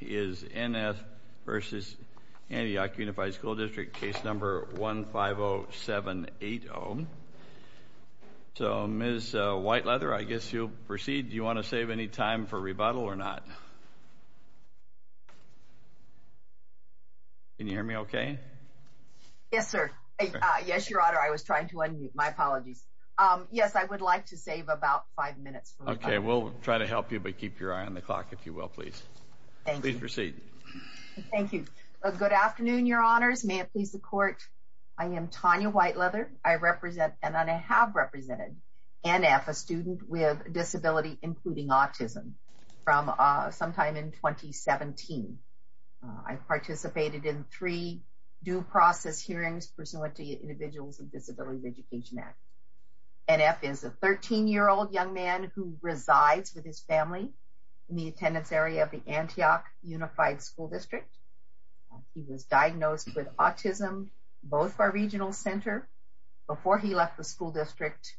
is N.F. v. Antioch Unified School District, case number 150780. So, Ms. Whiteleather, I guess you'll proceed. Do you want to save any time for rebuttal or not? Can you hear me okay? Yes, sir. Yes, Your Honor, I was trying to unmute. My apologies. Yes, I would like to save about five minutes for rebuttal. Okay, we'll try to help you, but keep your eye on the clock, if you will, please. Thank you. Please proceed. Thank you. Good afternoon, Your Honors. May it please the Court. I am Tonya Whiteleather. I represent, and I have represented, N.F., a student with a disability, including autism, from sometime in 2017. I participated in three due process hearings pursuant to the Individuals with Disabilities Education Act. N.F. is a 13-year-old young man who resides with his family in the attendance area of the Antioch Unified School District. He was diagnosed with autism, both by Regional Center, before he left the school district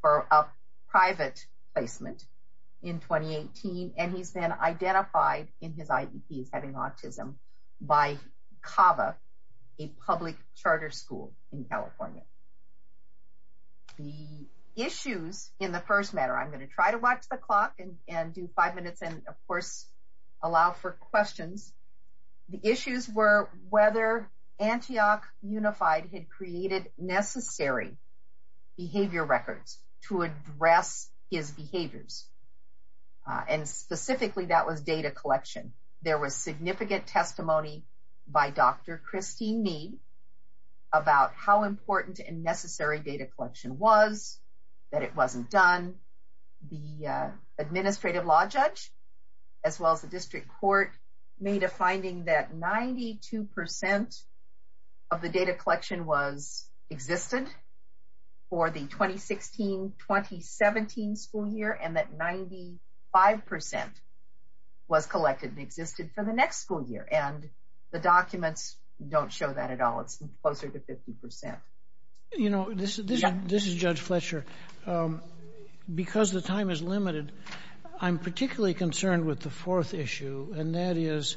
for a private placement in 2018, and he's been identified in his IEP as having autism by CAVA, a public charter school in California. The issues, in the first matter, I'm going to try to watch the clock and do five minutes and, of course, allow for questions. The issues were whether Antioch Unified had created necessary behavior records to address his behaviors, and specifically that was data collection. There was significant testimony by Dr. Christine Mead about how important and necessary data collection was, that it wasn't done. The administrative law judge, as well as the district court, made a finding that 92% of the data collection was existed for the 2016-2017 school year and that 95% was collected and existed for the next school year, and the documents don't show that at all. It's closer to 50%. This is Judge Fletcher. Because the time is limited, I'm particularly concerned with the fourth issue, and that is,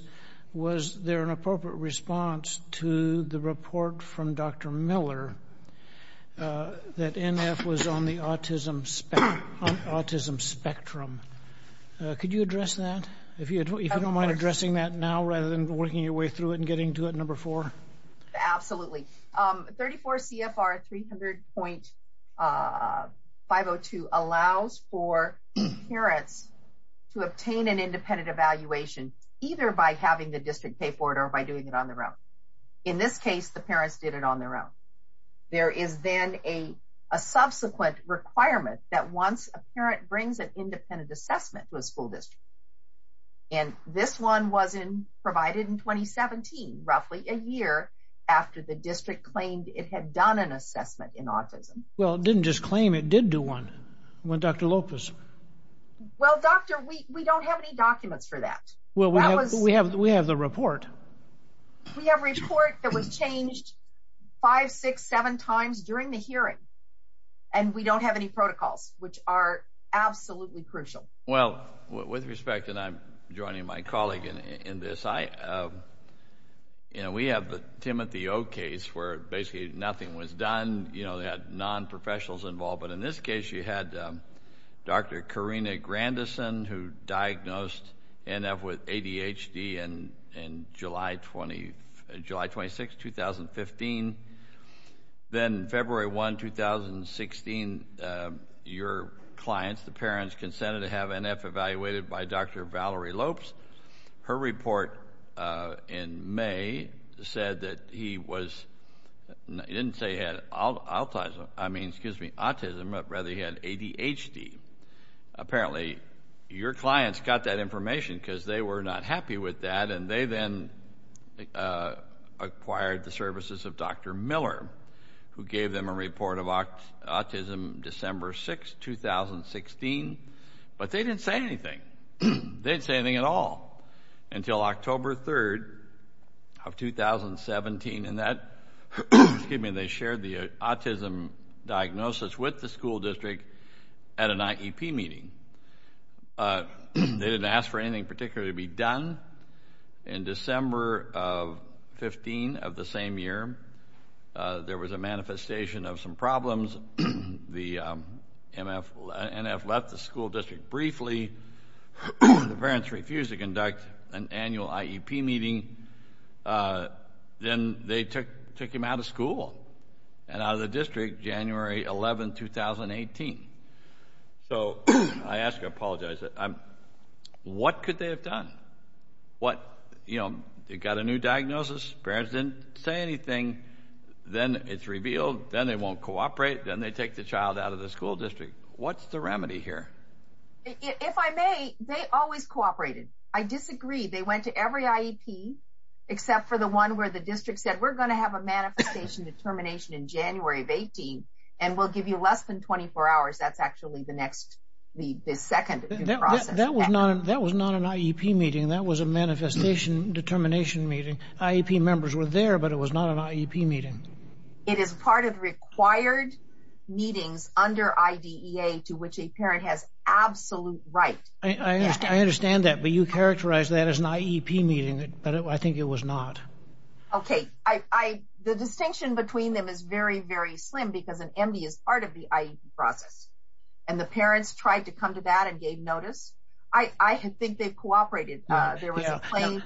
was there an appropriate response to the report from Dr. Miller that NF was on the autism spectrum? Could you address that? If you don't mind addressing that now rather than working your way through it and getting to it, number four. Absolutely. 34 CFR 300.502 allows for parents to obtain an independent evaluation either by having the district pay for it or by doing it on their own. In this case, the parents did it on their own. There is then a subsequent requirement that once a parent brings an independent assessment to a school district, and this one was provided in 2017, roughly a year after the district claimed it had done an assessment in autism. Well, it didn't just claim it did do one. What about Dr. Lopez? Well, doctor, we don't have any documents for that. Well, we have the report. We have a report that was changed five, six, seven times during the hearing, and we don't have any protocols, which are absolutely crucial. Well, with respect, and I'm joining my colleague in this, we have the Timothy Oak case where basically nothing was done. They had nonprofessionals involved, but in this case you had Dr. Karina Grandison who diagnosed NF with ADHD in July 26, 2015. Then February 1, 2016, your clients, the parents, consented to have NF evaluated by Dr. Valerie Lopes. Her report in May said that he was, it didn't say he had autism, I mean, excuse me, autism, but rather he had ADHD. Apparently your clients got that information because they were not happy with that, and they then acquired the services of Dr. Miller who gave them a report of autism December 6, 2016, but they didn't say anything. They didn't say anything at all until October 3, 2017, and that, excuse me, they shared the autism diagnosis with the school district at an IEP meeting. They didn't ask for anything particularly to be done. In December 15 of the same year, there was a manifestation of some problems. The NF left the school district briefly. The parents refused to conduct an annual IEP meeting. Then they took him out of school and out of the district January 11, 2018. So I ask, I apologize, what could they have done? What, you know, they got a new diagnosis, parents didn't say anything, then it's revealed, then they won't cooperate, then they take the child out of the school district. What's the remedy here? If I may, they always cooperated. I disagree, they went to every IEP except for the one where the district said we're going to have a manifestation determination in January of 18, and we'll give you less than 24 hours. That's actually the next, the second process. That was not an IEP meeting, that was a manifestation determination meeting. IEP members were there, but it was not an IEP meeting. It is part of required meetings under IDEA to which a parent has absolute right. I understand that, but you characterized that as an IEP meeting, but I think it was not. Okay, the distinction between them is very, very slim because an MD is part of the IEP process, and the parents tried to come to that and gave notice. I think they cooperated. Pardon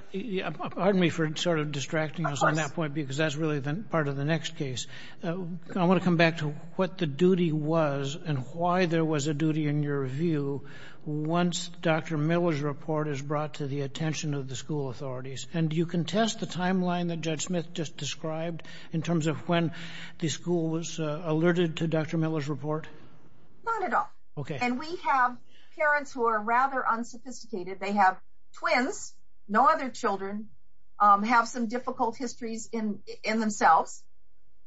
me for sort of distracting us on that point because that's really the part of the next case. I want to come back to what the duty was and why there was a duty in your view once Dr. Miller's report is brought to the attention of the school authorities, and do you contest the timeline that Judge Smith just described in terms of when the school was alerted to Dr. Miller's report? Not at all. Okay. And we have parents who are rather unsophisticated. They have twins, no other children, have some difficult histories in themselves,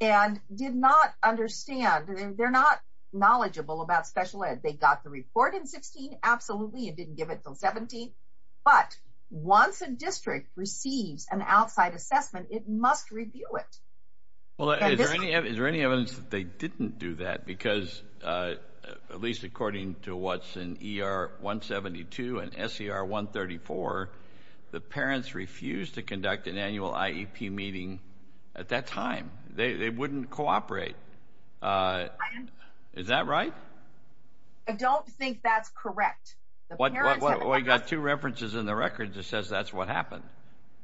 and did not understand, they're not knowledgeable about special ed. They got the report in 16, absolutely, it didn't give it until 17, but once a district receives an outside assessment, it must review it. Is there any evidence that they didn't do that because at least according to what's in ER 172 and SER 134, the parents refused to conduct an annual IEP meeting at that time. They wouldn't cooperate. Is that right? I don't think that's correct. We've got two references in the record that says that's what happened.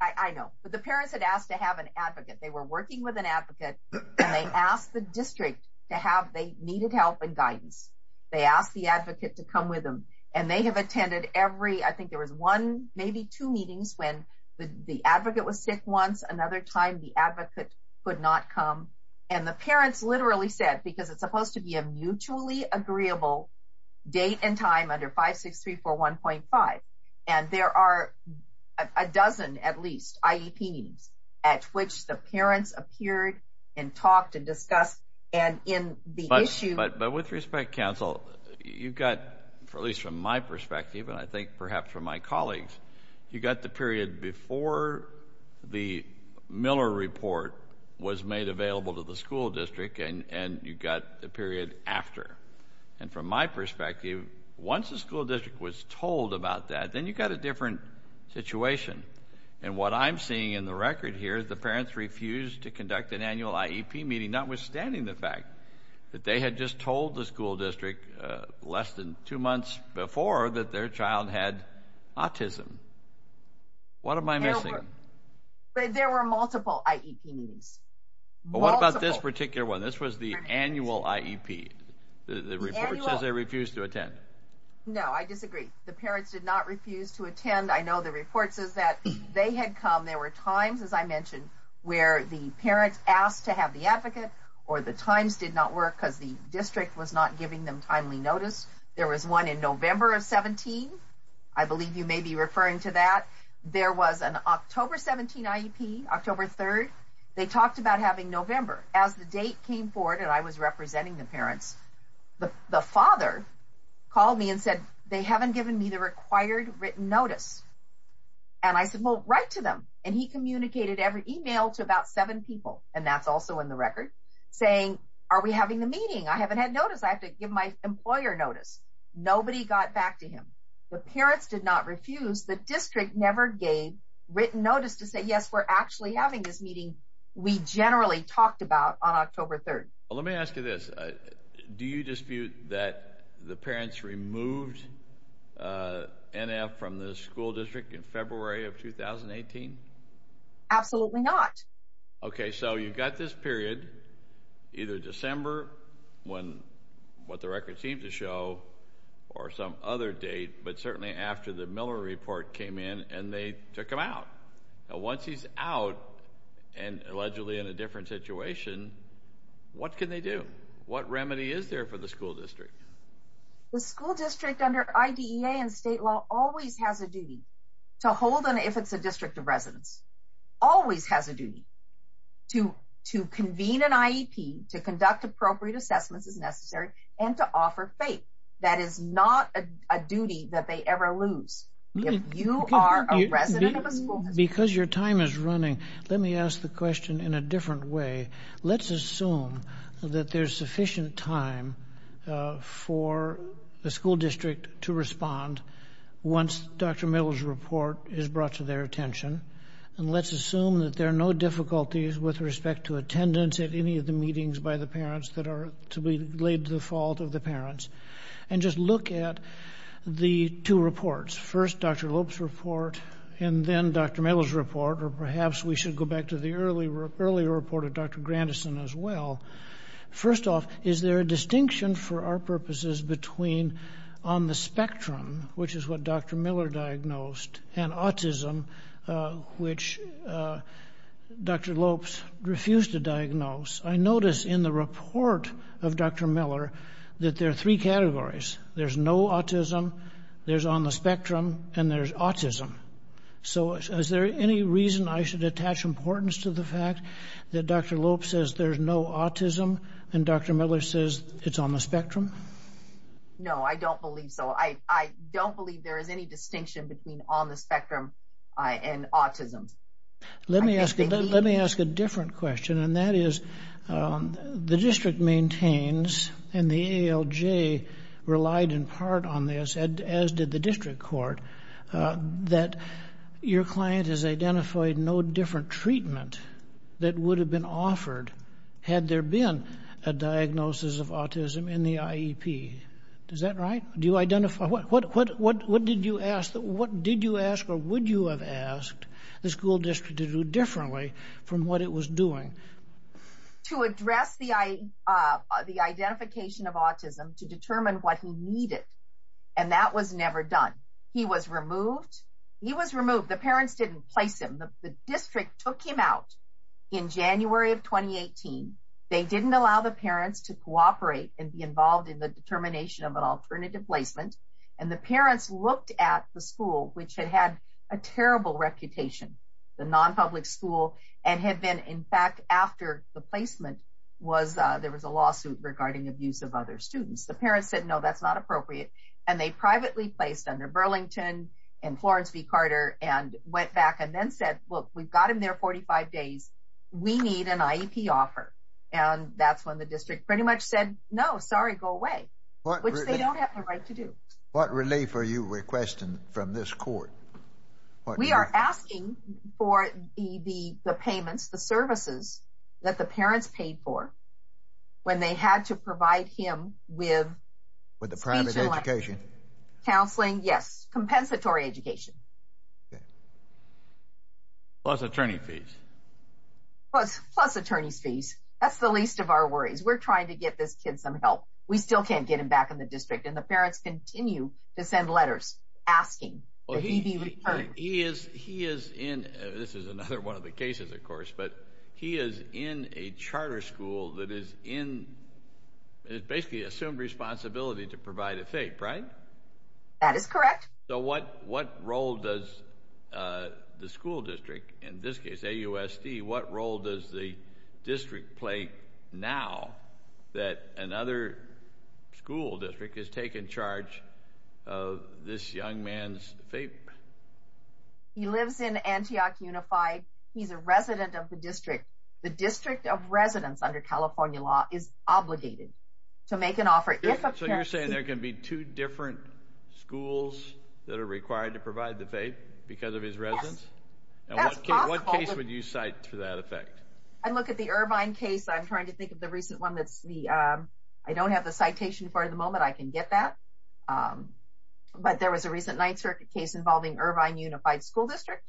I know. But the parents had asked to have an advocate. They were working with an advocate, and they asked the district to have, they needed help and guidance. They asked the advocate to come with them, and they have attended every, I think there was one, maybe two meetings when the advocate was sick once, another time the advocate could not come, and the parents literally said, because it's supposed to be a mutually agreeable date and time under 56341.5, and there are a dozen, at least, IEP meetings at which the parents appeared and talked and discussed, and in the issue. But with respect, counsel, you've got, at least from my perspective, and I think perhaps from my colleagues, you've got the period before the Miller report was made available to the school district, and you've got the period after. And from my perspective, once the school district was told about that, then you've got a different situation. And what I'm seeing in the record here, the parents refused to conduct an annual IEP meeting, notwithstanding the fact that they had just told the school district less than two months before that their child had autism. What am I missing? There were multiple IEP meetings. But what about this particular one? This was the annual IEP. The report says they refused to attend. No, I disagree. The parents did not refuse to attend. I know the report says that. They had come. There were times, as I mentioned, where the parents asked to have the advocate or the times did not work because the district was not giving them timely notice. There was one in November of 17. I believe you may be referring to that. There was an October 17 IEP, October 3rd. They talked about having November. As the date came forward and I was representing the parents, the father called me and said, they haven't given me the required written notice. And I said, well, write to them. And he communicated every email to about seven people, and that's also in the record, saying, are we having the meeting? I haven't had notice. I have to give my employer notice. Nobody got back to him. The parents did not refuse. The district never gave written notice to say, yes, we're actually having this meeting. We generally talked about on October 3rd. Let me ask you this. Do you dispute that the parents removed NF from the school district in February of 2018? Absolutely not. Okay. So you've got this period, either December, what the record seems to show, or some other date, but certainly after the Miller report came in and they took him out. Now, once he's out and allegedly in a different situation, what can they do? What remedy is there for the school district? The school district under IDEA and state law always has a duty to hold an, if it's a district of residence, always has a duty to convene an IEP, to conduct appropriate assessments as necessary, and to offer faith. That is not a duty that they ever lose. If you are a resident of a school district. Because your time is running, let me ask the question in a different way. Let's assume that there's sufficient time for the school district to respond once Dr. Miller's report is brought to their attention, and let's assume that there are no difficulties with respect to attendance at any of the meetings by the parents that are to be laid to the fault of the First, Dr. Lopes' report, and then Dr. Miller's report, or perhaps we should go back to the earlier report of Dr. Grandison as well. First off, is there a distinction for our purposes between on the spectrum, which is what Dr. Miller diagnosed, and autism, which Dr. Lopes refused to diagnose? I notice in the report of Dr. Miller that there are three categories. There's no autism, there's on the spectrum, and there's autism. So is there any reason I should attach importance to the fact that Dr. Lopes says there's no autism, and Dr. Miller says it's on the spectrum? No, I don't believe so. I don't believe there is any distinction between on the spectrum and autism. Let me ask a different question, and that is, the district maintains, and the ALJ relied in part on this, as did the district court, that your client has identified no different treatment that would have been offered had there been a diagnosis of autism in the IEP. Is that right? Do you identify? What did you ask or would you have asked the school district to do differently from what it was doing? To address the identification of autism, to determine what he needed, and that was never done. He was removed. He was removed. The parents didn't place him. The district took him out in January of 2018. They didn't allow the parents to cooperate and be involved in the determination of an alternative placement, and the parents looked at the school, which had had a terrible reputation, the non-public school, and had been, in fact, after the placement, there was a lawsuit regarding abuse of other students. The parents said, no, that's not appropriate, and they privately placed under Burlington and Florence v. Carter and went back and then said, look, we've got him there 45 days. We need an IEP offer, and that's when the district pretty much said, no, sorry, go away, which they don't have the right to do. What relief are you requesting from this court? We are asking for the payments, the services that the parents paid for when they had to provide him with speech and language. With the private education. Counseling, yes, compensatory education. Plus attorney fees. Plus attorney fees. That's the least of our worries. We're trying to get this kid some help. We still can't get him back in the district, and the parents continue to send letters asking that he be returned. He is in, this is another one of the cases, of course, but he is in a charter school that is in, basically assumed responsibility to provide a FAPE, right? That is correct. So what role does the school district, in this case, AUSD, what role does the district play now that another school district has taken charge of this young man's FAPE? He lives in Antioch Unified. He's a resident of the district. The district of residence under California law is obligated to make an offer. So you're saying there can be two different schools that are required to provide the FAPE because of his residence? Yes. To that effect. I look at the Irvine case. I'm trying to think of the recent one. I don't have the citation for it at the moment. I can get that. But there was a recent Ninth Circuit case involving Irvine Unified School District,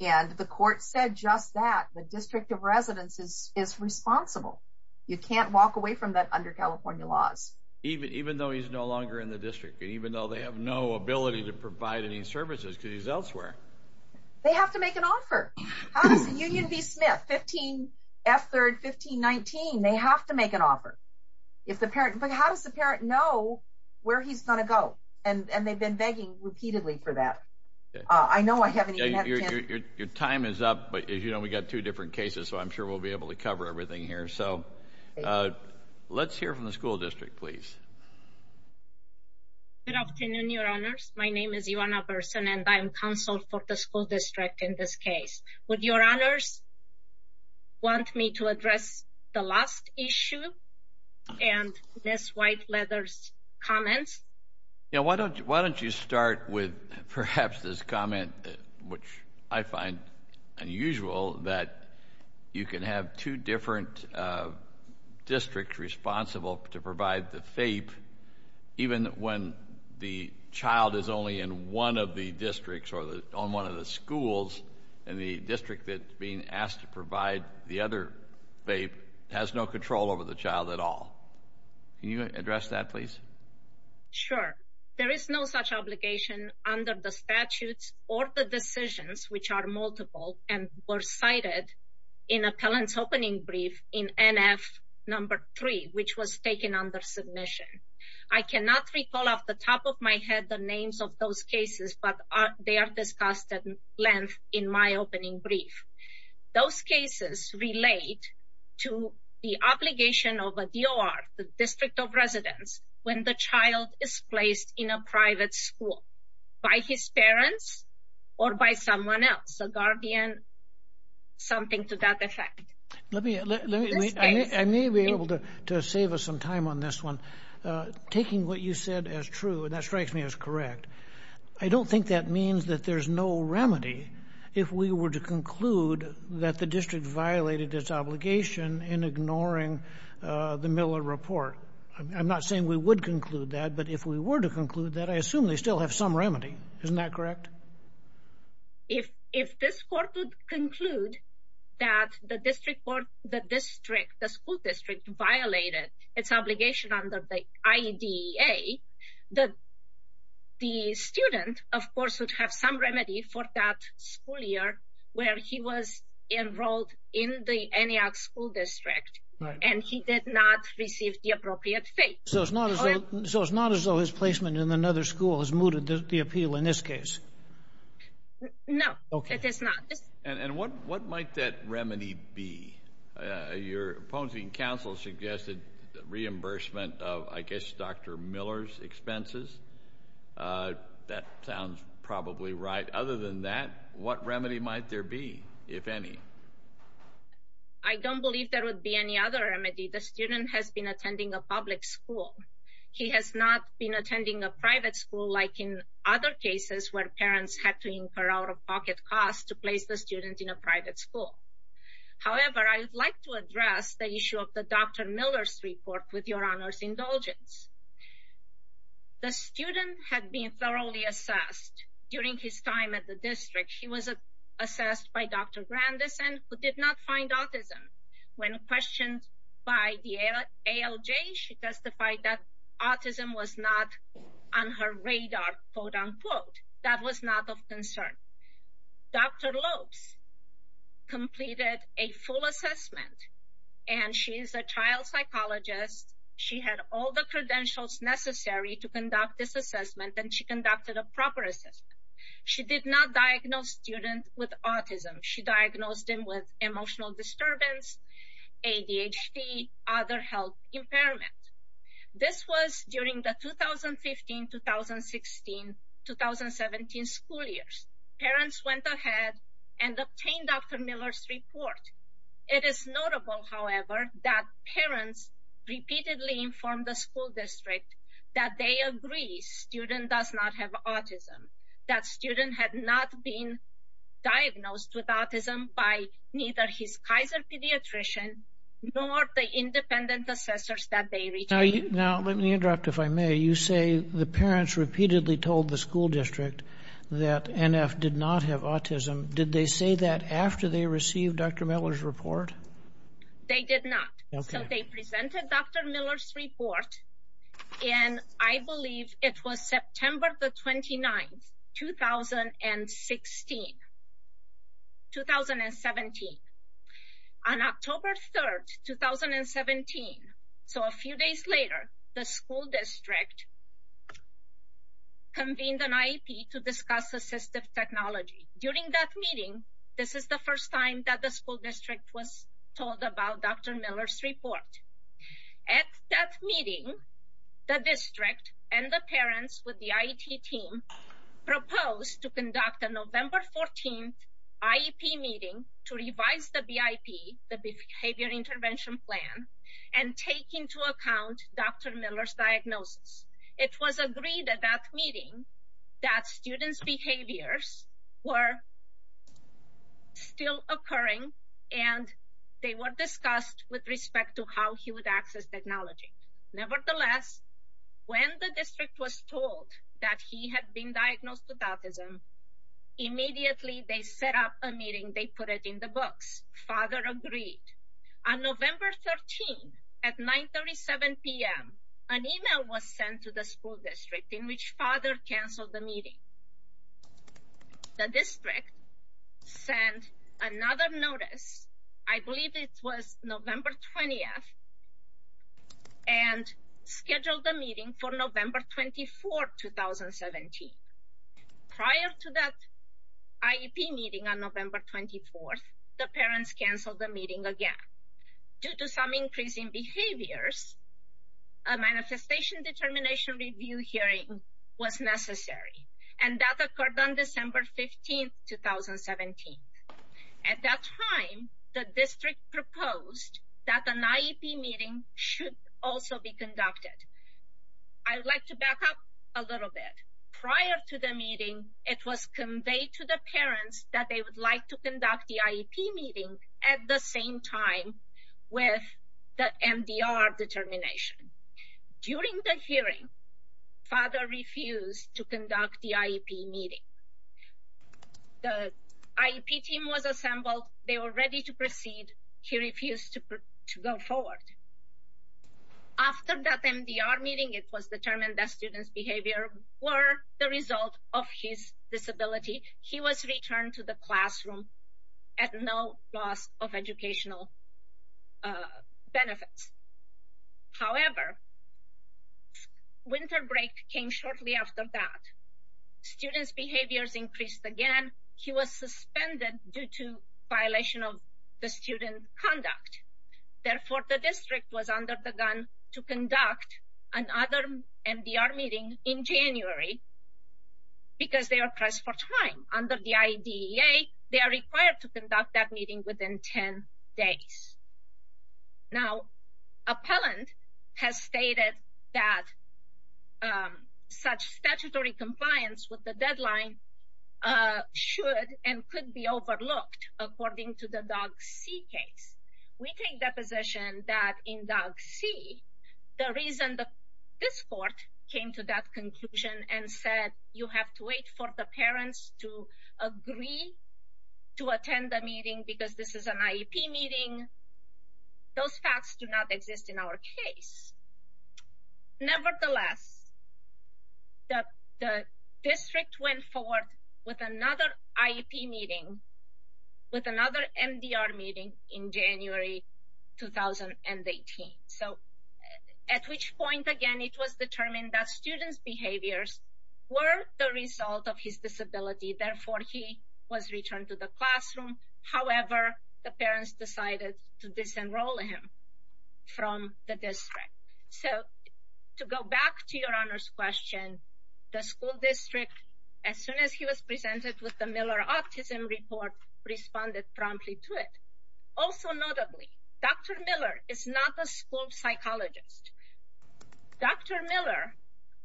and the court said just that. The district of residence is responsible. You can't walk away from that under California laws. Even though he's no longer in the district, elsewhere? They have to make an offer. How does Union v. Smith, 15F3rd, 1519, they have to make an offer? But how does the parent know where he's going to go? And they've been begging repeatedly for that. I know I haven't even had a chance. Your time is up. But as you know, we've got two different cases, so I'm sure we'll be able to cover everything here. So let's hear from the school district, please. Good afternoon, Your Honors. My name is Ivana Berson, and I am counsel for the school district in this case. Would Your Honors want me to address the last issue and Ms. Whiteleather's comments? Yeah, why don't you start with perhaps this comment, which I find unusual, that you can have two different districts responsible to provide the FAPE, even when the child is only in one of the districts or on one of the schools, and the district that's being asked to provide the other FAPE has no control over the child at all. Can you address that, please? Sure. There is no such obligation under the statutes or the decisions, which are multiple and were cited in appellant's opening brief in NF number three, which was taken under submission. I cannot recall off the top of my head the names of those cases, but they are discussed at length in my opening brief. Those cases relate to the obligation of a DOR, the district of residence, when the child is placed in a private school by his parents or by someone else, a guardian, something to that effect. I may be able to save us some time on this one. Taking what you said as true, and that strikes me as correct, I don't think that means that there's no remedy if we were to conclude that the district violated its obligation in ignoring the Miller Report. I'm not saying we would conclude that, but if we were to conclude that, I assume they still have some remedy. Isn't that correct? If this court would conclude that the school district violated its obligation under the IDEA, the student, of course, would have some remedy for that school year where he was enrolled in the NEAC school district, and he did not receive the appropriate fees. So it's not as though his placement in another school has mooted the appeal in this case. No, it has not. And what might that remedy be? Your opposing counsel suggested reimbursement of, I guess, Dr. Miller's expenses. That sounds probably right. Other than that, what remedy might there be, if any? I don't believe there would be any other remedy. The student has been attending a public school. He has not been attending a private school like in other cases where parents had to incur out-of-pocket costs to place the student in a private school. However, I would like to address the issue of the Dr. Miller's report with Your Honor's indulgence. The student had been thoroughly assessed during his time at the district. He was assessed by Dr. Grandison, who did not find autism. When questioned by the ALJ, she testified that autism was not on her radar, quote-unquote. That was not of concern. Dr. Lopes completed a full assessment, and she is a child psychologist. She had all the credentials necessary to conduct this assessment, and she conducted a proper assessment. She did not diagnose the student with autism. She diagnosed him with emotional disturbance, ADHD, other health impairment. This was during the 2015-2016-2017 school years. Parents went ahead and obtained Dr. Miller's report. It is notable, however, that parents repeatedly informed the school district that they agree student does not have autism, that student had not been diagnosed with autism by neither his Kaiser pediatrician nor the independent assessors that they retained. Now let me interrupt, if I may. You say the parents repeatedly told the school district that NF did not have autism. Did they say that after they received Dr. Miller's report? They did not. So they presented Dr. Miller's report, and I believe it was September the 29th, 2016, 2017. On October 3rd, 2017, so a few days later, the school district convened an IEP to discuss assistive technology. During that meeting, this is the first time that the school district was told about Dr. Miller's report. At that meeting, the district and the parents with the IET team proposed to conduct a November 14th IEP meeting to revise the BIP, the Behavior Intervention Plan, and take into account Dr. Miller's diagnosis. It was agreed at that meeting that students' behaviors were still occurring and they were discussed with respect to how he would access technology. Nevertheless, when the district was told that he had been diagnosed with autism, immediately they set up a meeting. They put it in the books. Father agreed. On November 13th, at 9.37 p.m., an email was sent to the school district in which father canceled the meeting. The district sent another notice, I believe it was November 20th, and scheduled the meeting for November 24th, 2017. Prior to that IEP meeting on November 24th, the parents canceled the meeting again. Due to some increasing behaviors, a manifestation determination review hearing was necessary, and that occurred on December 15th, 2017. At that time, the district proposed that an IEP meeting should also be conducted. I would like to back up a little bit. Prior to the meeting, it was conveyed to the parents that they would like to conduct the IEP meeting at the same time with the MDR determination. During the hearing, father refused to conduct the IEP meeting. The IEP team was assembled. They were ready to proceed. He refused to go forward. After that MDR meeting, it was determined that students' behavior were the result of his disability. He was returned to the classroom at no loss of educational benefits. However, winter break came shortly after that. Students' behaviors increased again. He was suspended due to violation of the student conduct. Therefore, the district was under the gun to conduct another MDR meeting in January because they were pressed for time. Under the IDEA, they are required to conduct that meeting within 10 days. Now, appellant has stated that such statutory compliance with the deadline should and could be overlooked according to the DOGC case. We take the position that in DOGC, the reason that this court came to that conclusion and said you have to wait for the parents to agree to attend the meeting because this is an IEP meeting, those facts do not exist in our case. Nevertheless, the district went forward with another IEP meeting with another MDR meeting in January 2018. At which point, again, it was determined that students' behaviors were the result of his disability. Therefore, he was returned to the classroom. However, the parents decided to disenroll him from the district. To go back to your Honor's question, the school district, as soon as he was presented with the Miller Autism Report, responded promptly to it. Also notably, Dr. Miller is not a school psychologist. Dr. Miller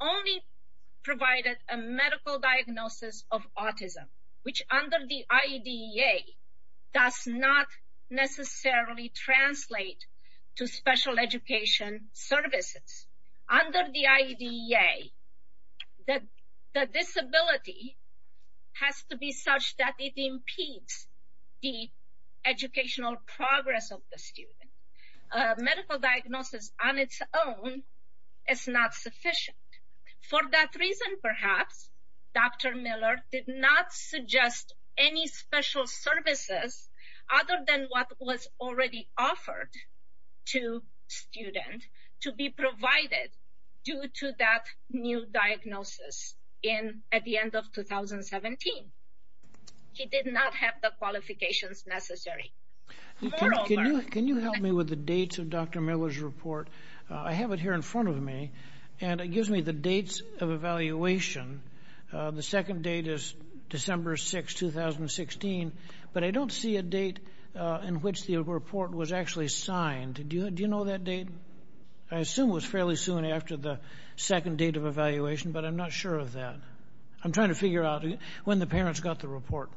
only provided a medical diagnosis of autism, which under the IDEA does not necessarily translate to special education services. Under the IDEA, the disability has to be such that it impedes the educational progress of the student. Medical diagnosis on its own is not sufficient. For that reason, perhaps, Dr. Miller did not suggest any special services other than what was already offered to students to be provided due to that new diagnosis at the end of 2017. He did not have the qualifications necessary. Can you help me with the dates of Dr. Miller's report? I have it here in front of me, and it gives me the dates of evaluation. The second date is December 6, 2016, but I don't see a date in which the report was actually signed. Do you know that date? I assume it was fairly soon after the second date of evaluation, but I'm not sure of that. I'm trying to figure out when the parents got the report.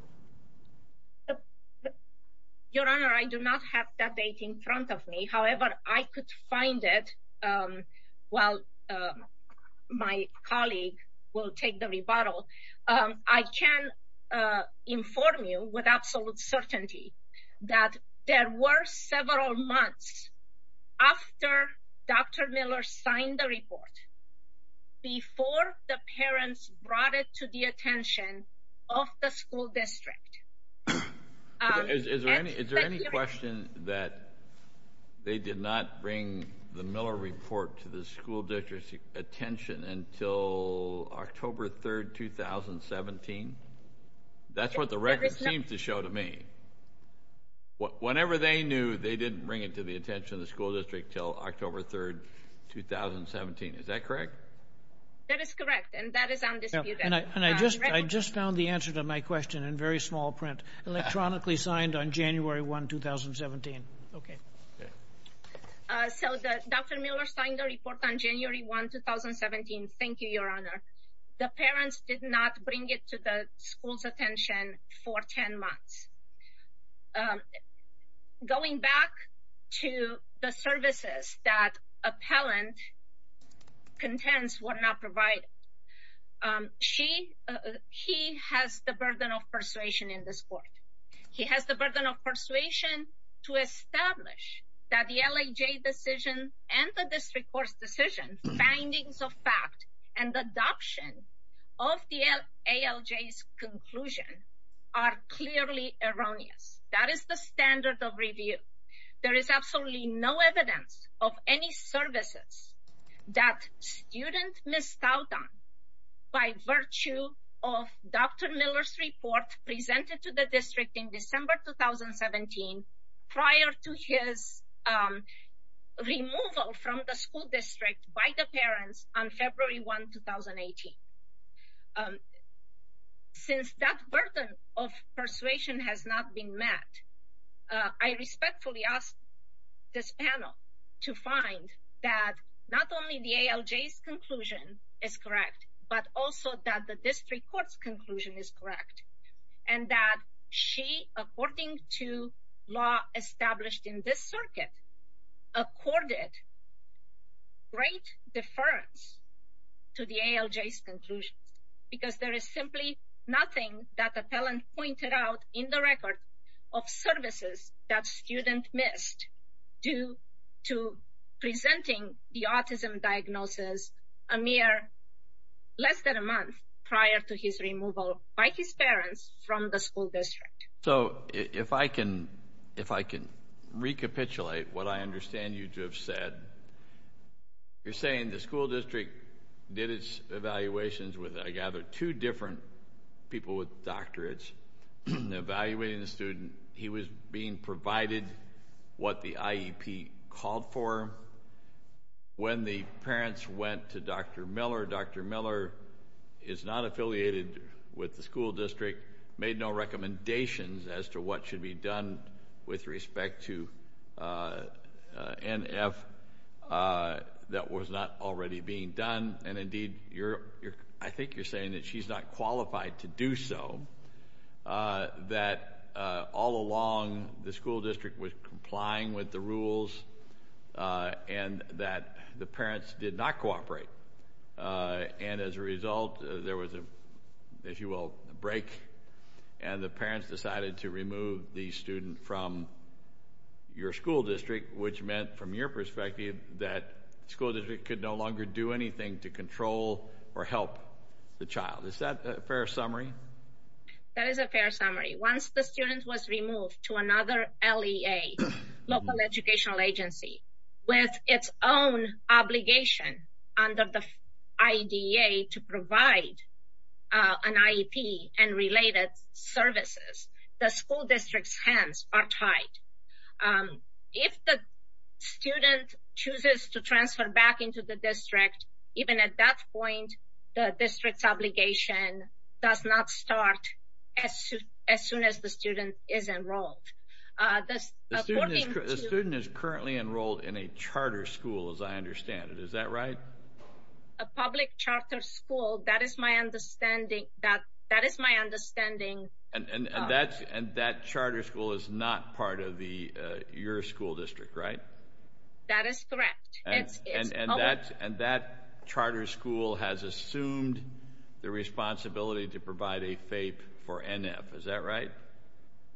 Your Honor, I do not have that date in front of me. However, I could find it while my colleague will take the rebuttal. I can inform you with absolute certainty that there were several months after Dr. Miller signed the report before the parents brought it to the attention of the school district. Is there any question that they did not bring the Miller report to the school district's attention until October 3, 2017? That's what the record seems to show to me. Whenever they knew, they didn't bring it to the attention of the school district until October 3, 2017. Is that correct? That is correct, and that is undisputed. I just found the answer to my question in very small print. Electronically signed on January 1, 2017. Dr. Miller signed the report on January 1, 2017. Thank you, Your Honor. The parents did not bring it to the school's attention for 10 months. Going back to the services that appellant contends were not provided, he has the burden of persuasion in this court. He has the burden of persuasion to establish that the LAJ decision and the district court's decision, findings of fact, and adoption of the ALJ's conclusion are clearly erroneous. That is the standard of review. There is absolutely no evidence of any services that student missed out on by virtue of Dr. Miller's report presented to the district in December 2017 prior to his removal from the school district by the parents on February 1, 2018. Since that burden of persuasion has not been met, I respectfully ask this panel to find that not only the ALJ's conclusion is correct, but also that the district court's conclusion is correct, and that she, according to law established in this circuit, accorded great deference to the ALJ's conclusion, because there is simply nothing that appellant pointed out in the record of services that student missed due to presenting the autism diagnosis a mere less than a month prior to his removal by his parents from the school district. So if I can recapitulate what I understand you to have said, you're saying the school district did its evaluations with, I gather, two different people with doctorates, evaluating the student. He was being provided what the IEP called for. When the parents went to Dr. Miller, Dr. Miller is not affiliated with the school district, made no recommendations as to what should be done with respect to NF that was not already being done. And indeed, I think you're saying that she's not qualified to do so, that all along the school district was complying with the rules and that the parents did not cooperate. And as a result, there was, if you will, a break, and the parents decided to remove the student from your school district, which meant, from your perspective, that school district could no longer do anything to control or help the child. Is that a fair summary? That is a fair summary. Once the student was removed to another LEA, local educational agency, with its own obligation under the IDEA to provide an IEP and related services, the school district's hands are tied. If the student chooses to transfer back into the district, even at that point, the district's obligation does not start as soon as the student is enrolled. The student is currently enrolled in a charter school, as I understand it. Is that right? A public charter school. That is my understanding. And that charter school is not part of your school district, right? That is correct. And that charter school has assumed the responsibility to provide a FAPE for NF. Is that right?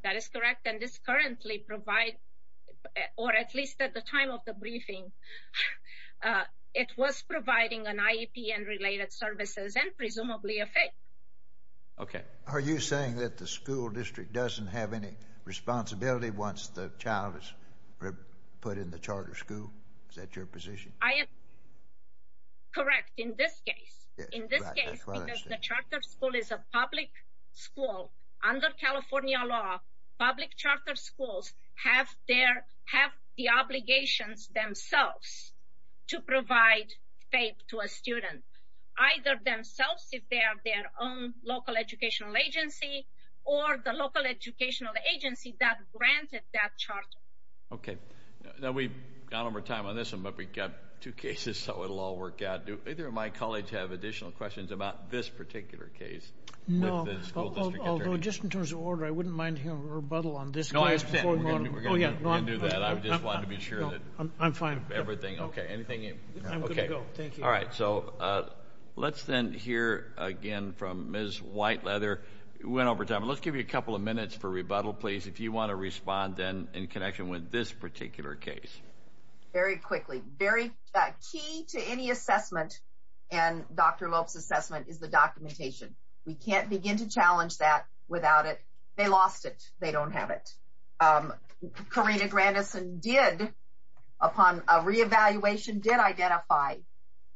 That is correct. And this currently provides, or at least at the time of the briefing, it was providing an IEP and related services and presumably a FAPE. Okay. Are you saying that the school district doesn't have any responsibility once the child is put in the charter school? Is that your position? I am correct in this case. In this case, because the charter school is a public school, under California law, public charter schools have the obligations themselves to provide FAPE to a student, either themselves if they are their own local educational agency or the local educational agency that granted that charter. Okay. Now, we've gone over time on this one, but we've got two cases, so it will all work out. Do either of my colleagues have additional questions about this particular case? No. Although, just in terms of order, I wouldn't mind hearing a rebuttal on this case. No, I understand. We're going to do that. I just wanted to be sure. I'm fine. Okay. Anything else? I'm good to go. Thank you. All right. So let's then hear again from Ms. Whiteleather. We went over time. Let's give you a couple of minutes for rebuttal, please, if you want to respond then in connection with this particular case. Very quickly. Very key to any assessment and Dr. Lope's assessment is the documentation. We can't begin to challenge that without it. They lost it. They don't have it. Karina Grandison did, upon a reevaluation, did identify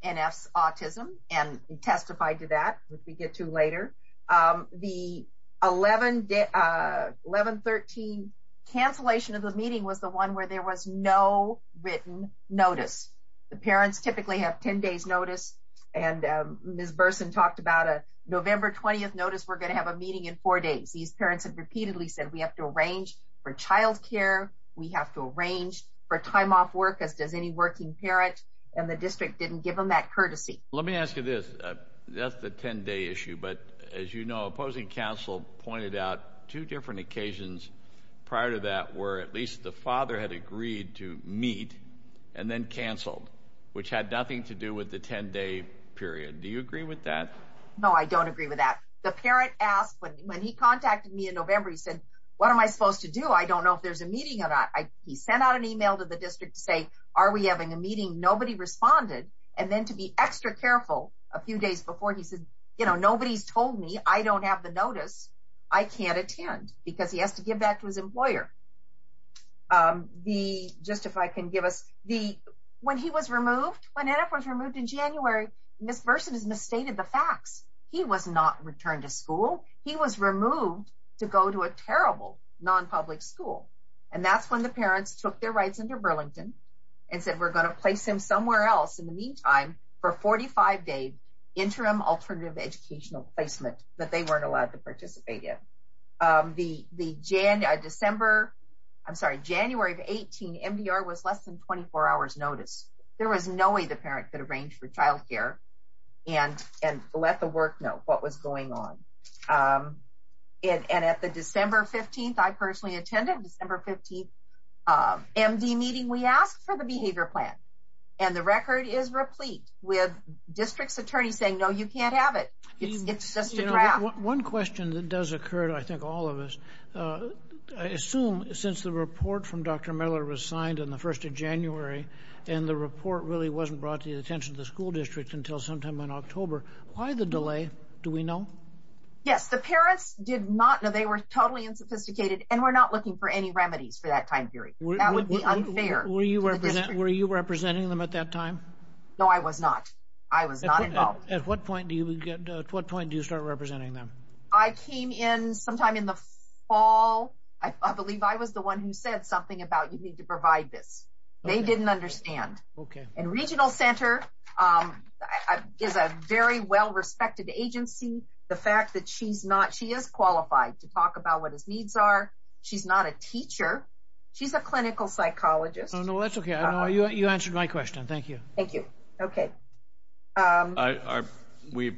NF's autism and testified to that, which we get to later. The 11-13 cancellation of the meeting was the one where there was no written notice. The parents typically have 10 days notice. And Ms. Burson talked about a November 20th notice. We're going to have a meeting in four days. These parents have repeatedly said we have to arrange for child care. We have to arrange for time off work, as does any working parent. And the district didn't give them that courtesy. Let me ask you this. That's the 10-day issue. But, as you know, opposing counsel pointed out two different occasions prior to that where at least the father had agreed to meet and then canceled, which had nothing to do with the 10-day period. Do you agree with that? No, I don't agree with that. The parent asked when he contacted me in November, he said, what am I supposed to do? I don't know if there's a meeting or not. He sent out an email to the district to say, are we having a meeting? Nobody responded. And then to be extra careful, a few days before, he said, nobody's told me. I don't have the notice. I can't attend because he has to give that to his employer. Just if I can give us the, when he was removed, when NF was removed in January, Ms. Burson has misstated the facts. He was not returned to school. He was removed to go to a terrible non-public school. And that's when the parents took their rights into Burlington and said we're going to place him somewhere else in the meantime for a 45-day interim alternative educational placement that they weren't allowed to participate in. The December, I'm sorry, January of 18, MDR was less than 24 hours notice. There was no way the parent could arrange for child care and let the work know what was going on. And at the December 15th, I personally attended December 15th MD meeting, we asked for the behavior plan. And the record is replete with district's attorneys saying, no, you can't have it. It's just a draft. One question that does occur to I think all of us, I assume since the report from Dr. Miller was signed on the 1st of January and the report really wasn't brought to the attention of the school district until sometime in October, why the delay? Do we know? Yes. The parents did not know. They were totally unsophisticated and were not looking for any remedies for that time period. That would be unfair. Were you representing them at that time? No, I was not. I was not involved. At what point do you start representing them? I came in sometime in the fall. I believe I was the one who said something about you need to provide this. They didn't understand. And Regional Center is a very well-respected agency. The fact that she is qualified to talk about what his needs are. She's not a teacher. She's a clinical psychologist. No, that's okay. You answered my question. Thank you. Thank you. Okay. We're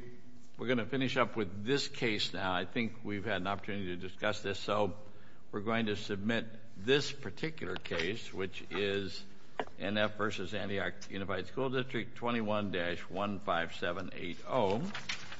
going to finish up with this case now. I think we've had an opportunity to discuss this. We're going to submit this particular case, which is NF versus Antioch Unified School District 21-15780.